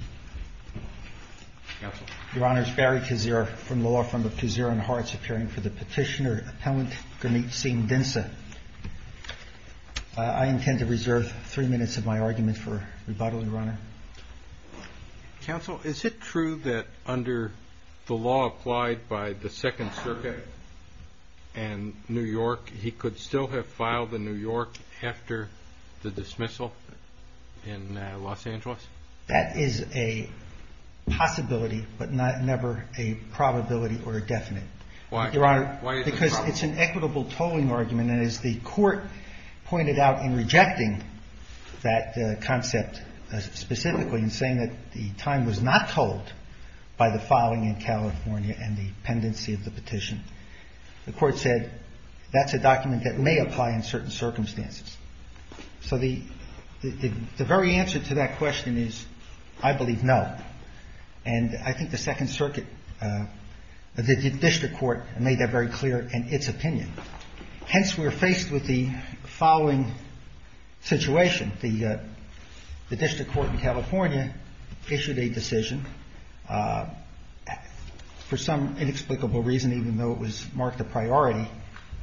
Is it true that under the law applied by the 2nd Circuit and New York he could still have a possibility, but never a probability or a definite? Your Honor, because it's an equitable tolling argument, and as the Court pointed out in rejecting that concept specifically in saying that the time was not tolled by the filing in California and the pendency of the petition, the Court said that's a document that may apply in certain circumstances. So the very answer to that question is, I believe, no. And I think the 2nd Circuit, the district court made that very clear in its opinion. Hence, we're faced with the following situation. The district court in California issued a decision for some inexplicable reason, even though it was marked a priority,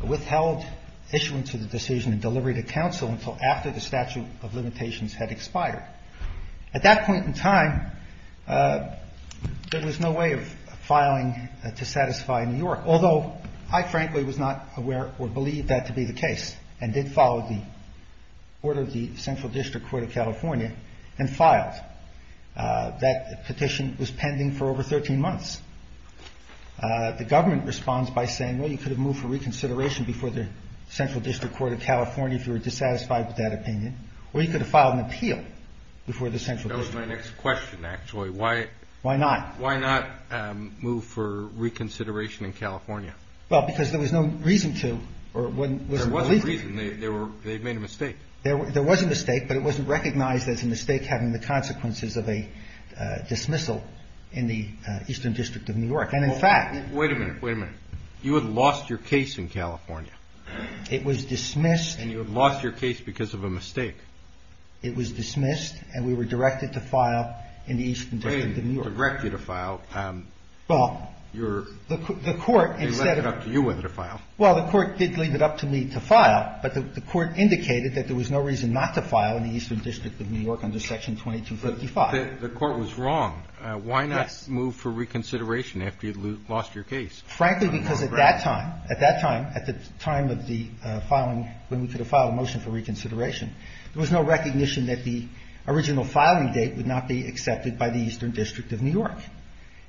withheld issuance of the decision and delivery to counsel until after the statute of limitations had expired. At that point in time, there was no way of filing to satisfy New York, although I frankly was not aware or believed that to be the case and did follow the order of the Central District Court of California and filed. That petition was pending for over 13 months. The government responds by saying, well, you could have moved for reconsideration before the Central District Court of California if you were dissatisfied with that opinion, or you could have filed an appeal before the Central District Court. That was my next question, actually. Why not? Why not move for reconsideration in California? Well, because there was no reason to or wasn't believed to. There wasn't a reason. They made a mistake. There was a mistake, but it wasn't recognized as a mistake having the consequences of a dismissal in the Eastern District of New York. And, in fact – Wait a minute. Wait a minute. You had lost your case in California. It was dismissed. And you had lost your case because of a mistake. It was dismissed, and we were directed to file in the Eastern District of New York. They didn't direct you to file. Well, the court instead of – They left it up to you whether to file. Well, the court did leave it up to me to file, but the court indicated that there was no reason not to file in the Eastern District of New York under Section 2255. But the court was wrong. Yes. Why not move for reconsideration after you'd lost your case? Frankly, because at that time – at that time, at the time of the filing, when we could have filed a motion for reconsideration, there was no recognition that the original filing date would not be accepted by the Eastern District of New York.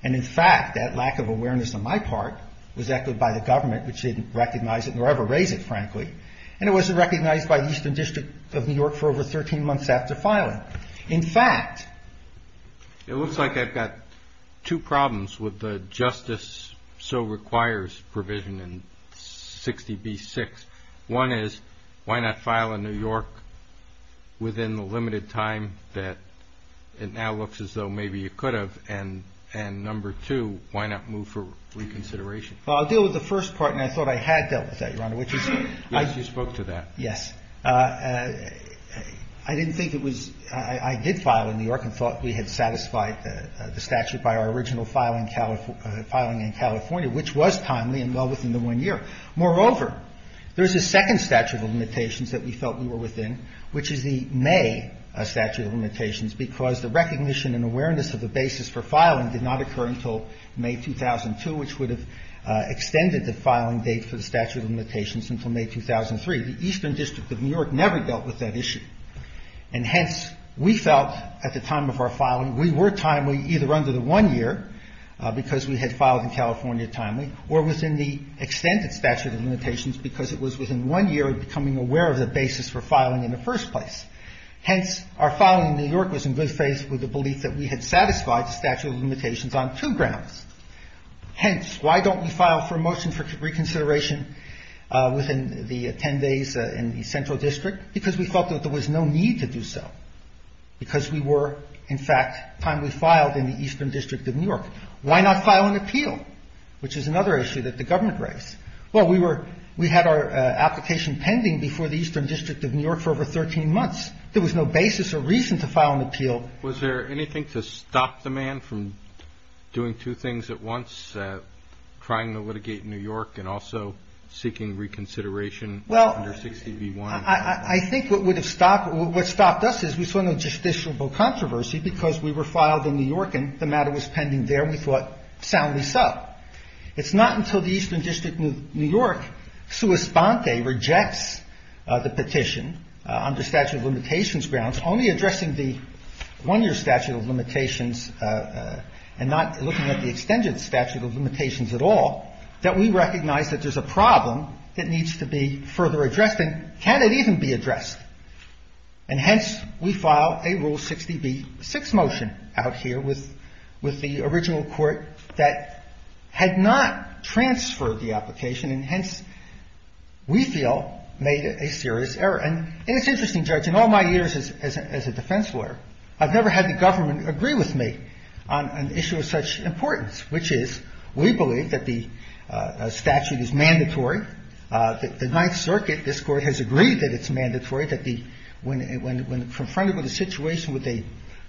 And, in fact, that lack of awareness on my part was echoed by the government, which didn't recognize it nor ever raise it, frankly. And it wasn't recognized by the Eastern District of New York for over 13 months after filing. In fact – It looks like I've got two problems with the justice so requires provision in 60B6. One is, why not file in New York within the limited time that it now looks as though maybe you could have? And number two, why not move for reconsideration? Well, I'll deal with the first part, and I thought I had dealt with that, Your Honor, which is – Yes, you spoke to that. Yes. I didn't think it was – I did file in New York and thought we had satisfied the statute by our original filing in California, which was timely and well within the one year. Moreover, there's a second statute of limitations that we felt we were within, which is the May statute of limitations, because the recognition and awareness of the basis for filing did not occur until May 2002, which would have extended the filing date for the statute of limitations until May 2003. The Eastern District of New York never dealt with that issue. And hence, we felt at the time of our filing, we were timely either under the one year, because we had filed in California timely, or within the extended statute of limitations because it was within one year of becoming aware of the basis for filing in the first place. Hence, our filing in New York was in good faith with the belief that we had satisfied the statute of limitations on two grounds. Hence, why don't we file for a motion for reconsideration within the ten days in the central district? Because we felt that there was no need to do so, because we were, in fact, timely filed in the Eastern District of New York. Why not file an appeal, which is another issue that the government raised? Well, we were – we had our application pending before the Eastern District of New York for over 13 months. There was no basis or reason to file an appeal. Was there anything to stop the man from doing two things at once, trying to litigate in New York and also seeking reconsideration under 60B1? Well, I think what would have stopped – what stopped us is we saw no justiciable controversy because we were filed in New York and the matter was pending there and we thought soundly so. It's not until the Eastern District of New York, sua sponte, rejects the petition under statute of limitations grounds, only addressing the one-year statute of limitations and not looking at the extended statute of limitations at all, that we recognize that there's a problem that needs to be further addressed. And can it even be addressed? And hence, we file a Rule 60B6 motion out here with the original court that had not been filed. And it's interesting, Judge. In all my years as a defense lawyer, I've never had the government agree with me on an issue of such importance, which is we believe that the statute is mandatory, that the Ninth Circuit, this Court, has agreed that it's mandatory that the – when confronted with a situation with a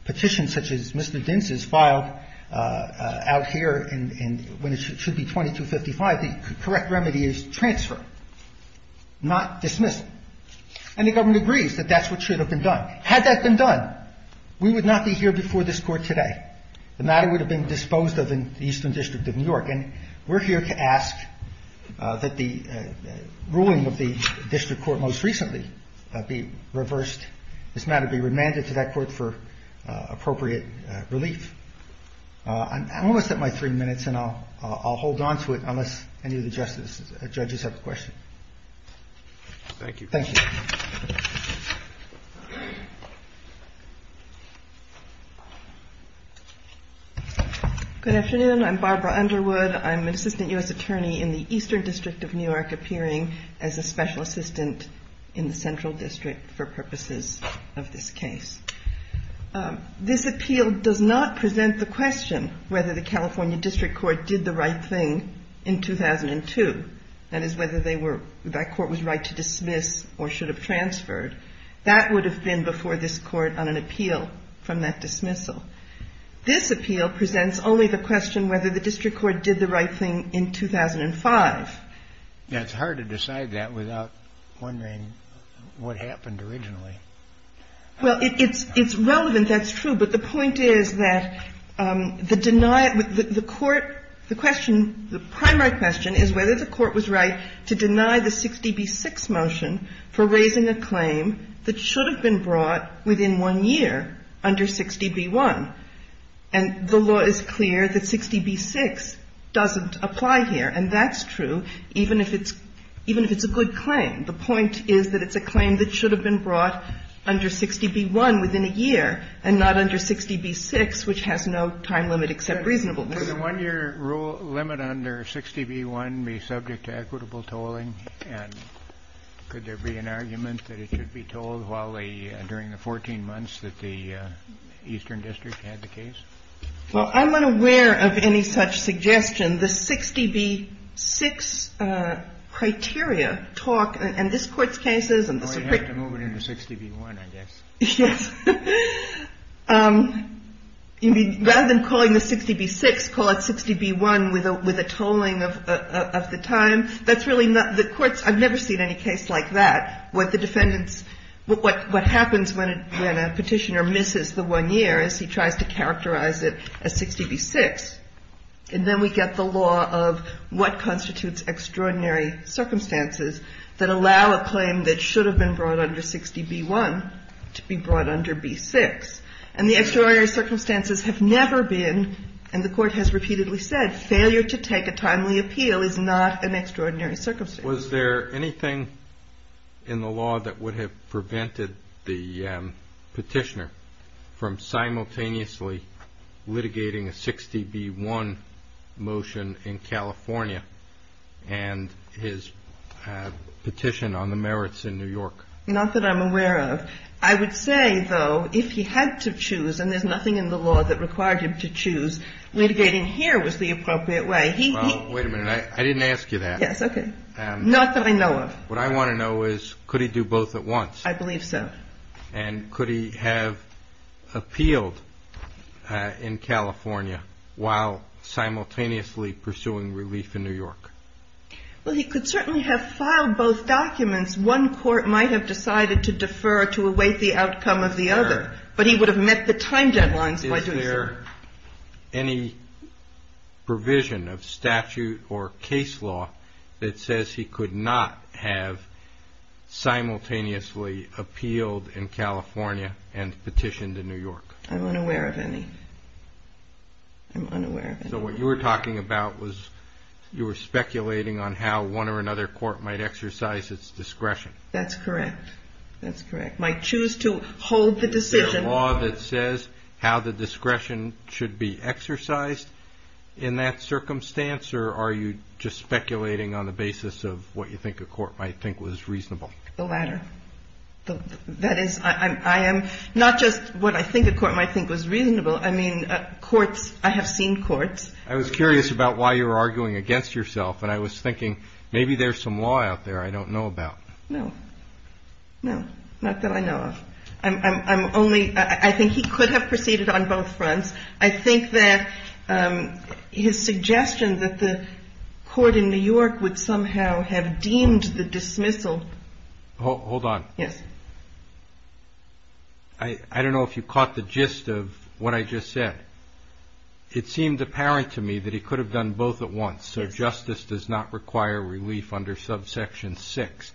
petition such as Mr. Dins's filed out here in – when it should be 2255, the correct remedy is transfer, not dismiss. And the government agrees that that's what should have been done. Had that been done, we would not be here before this Court today. The matter would have been disposed of in the Eastern District of New York. And we're here to ask that the ruling of the district court most recently be reversed, this matter be remanded to that court for appropriate relief. I'm almost at my three minutes, and I'll hold on to it unless any of the judges have a question. Thank you. Thank you. Good afternoon. I'm Barbara Underwood. I'm an assistant U.S. attorney in the Eastern District of New York, appearing as a special assistant in the Central District for purposes of this case. This appeal does not present the question whether the California District Court did the right thing in 2002, that is, whether they were – that court was right to dismiss or should have transferred. That would have been before this Court on an appeal from that dismissal. This appeal presents only the question whether the district court did the right thing in 2005. Yeah. It's hard to decide that without wondering what happened originally. Well, it's relevant. That's true. But the point is that the deny – the court – the question – the primary question is whether the court was right to deny the 60b-6 motion for raising a claim that should have been brought within one year under 60b-1. And the law is clear that 60b-6 doesn't apply here. And that's true even if it's – even if it's a good claim. The point is that it's a claim that should have been brought under 60b-1 within a year and not under 60b-6, which has no time limit except reasonableness. Would a one-year rule limit under 60b-1 be subject to equitable tolling? And could there be an argument that it should be tolled while the – during the 14 months that the Eastern District had the case? Well, I'm not aware of any such suggestion. The 60b-6 criteria talk – and this Court's cases and the Supreme Court's cases – Well, you have to move it into 60b-1, I guess. Yes. Rather than calling the 60b-6, call it 60b-1 with a tolling of the time. That's really not – the Court's – I've never seen any case like that, where the defendants – what happens when a Petitioner misses the one year is he tries to characterize it as 60b-6. And then we get the law of what constitutes extraordinary circumstances that allow a claim that should have been brought under 60b-1 to be brought under b-6. And the extraordinary circumstances have never been – and the Court has repeatedly said – failure to take a timely appeal is not an extraordinary circumstance. Was there anything in the law that would have prevented the Petitioner from simultaneously litigating a 60b-1 motion in California and his Petition on the merits in New York? Not that I'm aware of. I would say, though, if he had to choose – and there's nothing in the law that required him to choose – litigating here was the appropriate way. He – Well, wait a minute. I didn't ask you that. Yes. Okay. Not that I know of. What I want to know is, could he do both at once? I believe so. And could he have appealed in California while simultaneously pursuing relief in New York? Well, he could certainly have filed both documents. One court might have decided to defer to await the outcome of the other. But he would have met the time deadlines by doing so. Is there any provision of statute or case law that says he could not have simultaneously appealed in California and petitioned in New York? I'm unaware of any. I'm unaware of any. So what you were talking about was you were speculating on how one or another court might exercise its discretion. That's correct. That's correct. Might choose to hold the decision. Is there a law that says how the discretion should be exercised in that circumstance, or are you just speculating on the basis of what you think a court might think was reasonable? The latter. That is, I am not just what I think a court might think was reasonable. I mean, courts, I have seen courts. I was curious about why you were arguing against yourself. And I was thinking, maybe there's some law out there I don't know about. No. No. Not that I know of. I'm only, I think he could have proceeded on both fronts. I think that his suggestion that the court in New York would somehow have deemed the dismissal. Hold on. Yes. I don't know if you caught the gist of what I just said. It seemed apparent to me that he could have done both at once, so justice does not require relief under subsection six.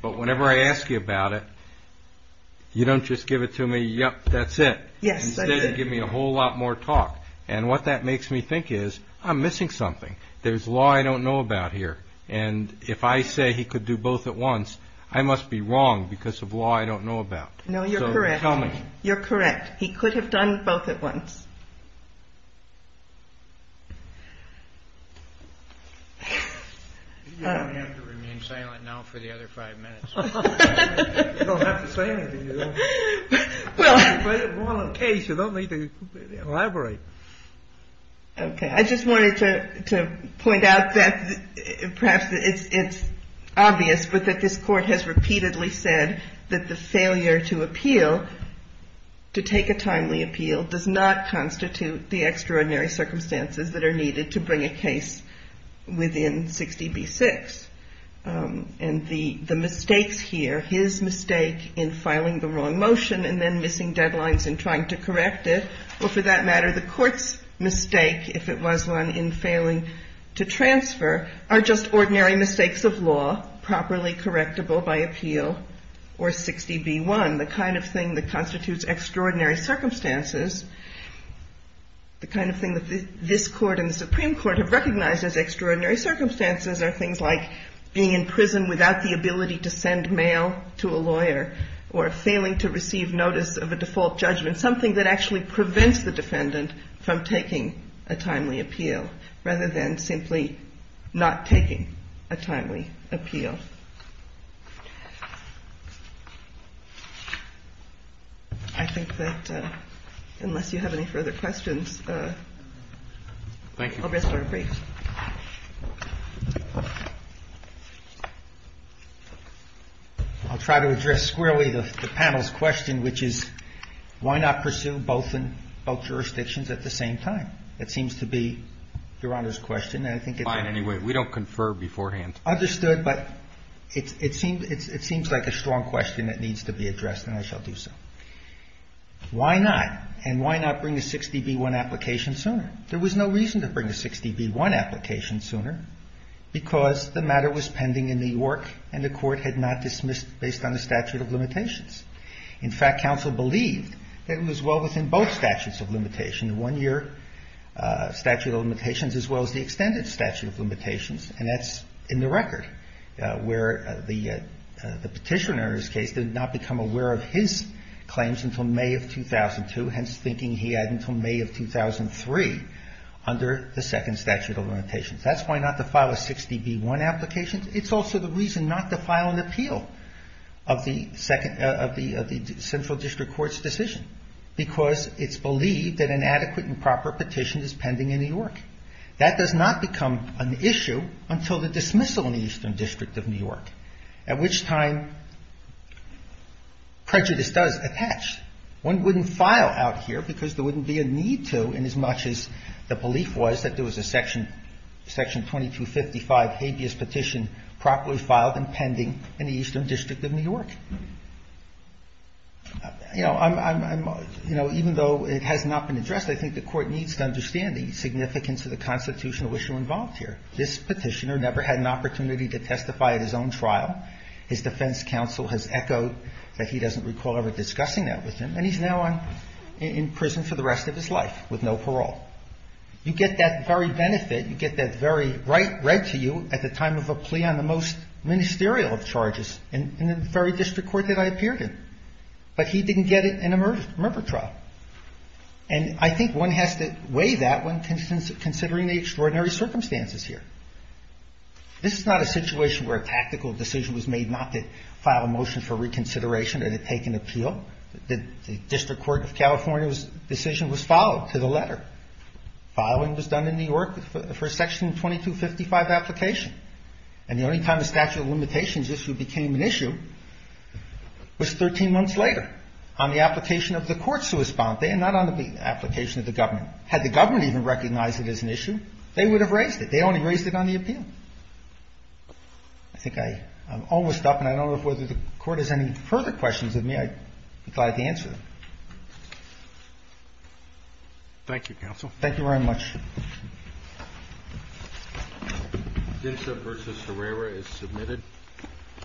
But whenever I ask you about it, you don't just give it to me, yep, that's it. Yes. Instead, you give me a whole lot more talk. And what that makes me think is, I'm missing something. There's law I don't know about here. And if I say he could do both at once, I must be wrong because of law I don't know about. No, you're correct. So tell me. You're correct. He could have done both at once. You don't have to remain silent now for the other five minutes. You don't have to say anything, you don't have to elaborate. Okay. I just wanted to point out that perhaps it's obvious, but that this court has repeatedly said that the failure to appeal, to take a timely appeal, does not constitute the extraordinary circumstances that are needed to bring a case within 60b-6. And the mistakes here, his mistake in filing the wrong motion and then missing deadlines and trying to correct it, or for that matter, the court's mistake, if it was one in failing to transfer, are just ordinary mistakes of law, properly correctable by appeal or 60b-1. The kind of thing that constitutes extraordinary circumstances, the kind of thing that this court and the Supreme Court have recognized as extraordinary circumstances are things like being in prison without the ability to send mail to a lawyer or failing to receive notice of a motion from taking a timely appeal, rather than simply not taking a timely appeal. I think that unless you have any further questions, I'll rest for a brief. I'll try to address squarely the panel's question, which is why not pursue both in both jurisdictions? I think it's important to address the question of why not bring a 60b-1 application sooner, because the matter was pending in New York and the court had not dismissed based on the statute of limitations. In fact, counsel believed that it was well within both statutes of limitation, the one that was pending in New York and the one that was pending in statute of limitations, as well as the extended statute of limitations, and that's in the record, where the Petitioner's case did not become aware of his claims until May of 2002, hence thinking he had until May of 2003 under the second statute of limitations. That's why not to file a 60b-1 application. It's also the reason not to file an appeal of the Central District Court's decision, because it's believed that an adequate and proper petition is pending in New York. That does not become an issue until the dismissal in the Eastern District of New York, at which time prejudice does attach. One wouldn't file out here because there wouldn't be a need to, inasmuch as the belief was that there was a Section 2255 habeas petition properly filed and pending in the Eastern District of New York. You know, even though it has not been addressed, I think the Court needs to understand the significance of the constitutional issue involved here. This Petitioner never had an opportunity to testify at his own trial. His defense counsel has echoed that he doesn't recall ever discussing that with him, and he's now in prison for the rest of his life with no parole. You get that very benefit. You get that very right read to you at the time of a plea on the most ministerial of charges in the very district court that I appeared in. But he didn't get it in a member trial. And I think one has to weigh that when considering the extraordinary circumstances here. This is not a situation where a tactical decision was made not to file a motion for reconsideration or to take an appeal. The district court of California's decision was followed to the letter. Filing was done in New York for a Section 2255 application. And the only time the statute of limitations issue became an issue was 13 months later, on the application of the court sui sponte and not on the application of the government. Had the government even recognized it as an issue, they would have raised it. They only raised it on the appeal. I think I'm almost up, and I don't know whether the court has any further questions of me. I'd be glad to answer them. Thank you, counsel. Thank you very much. Dinsa versus Herrera is submitted.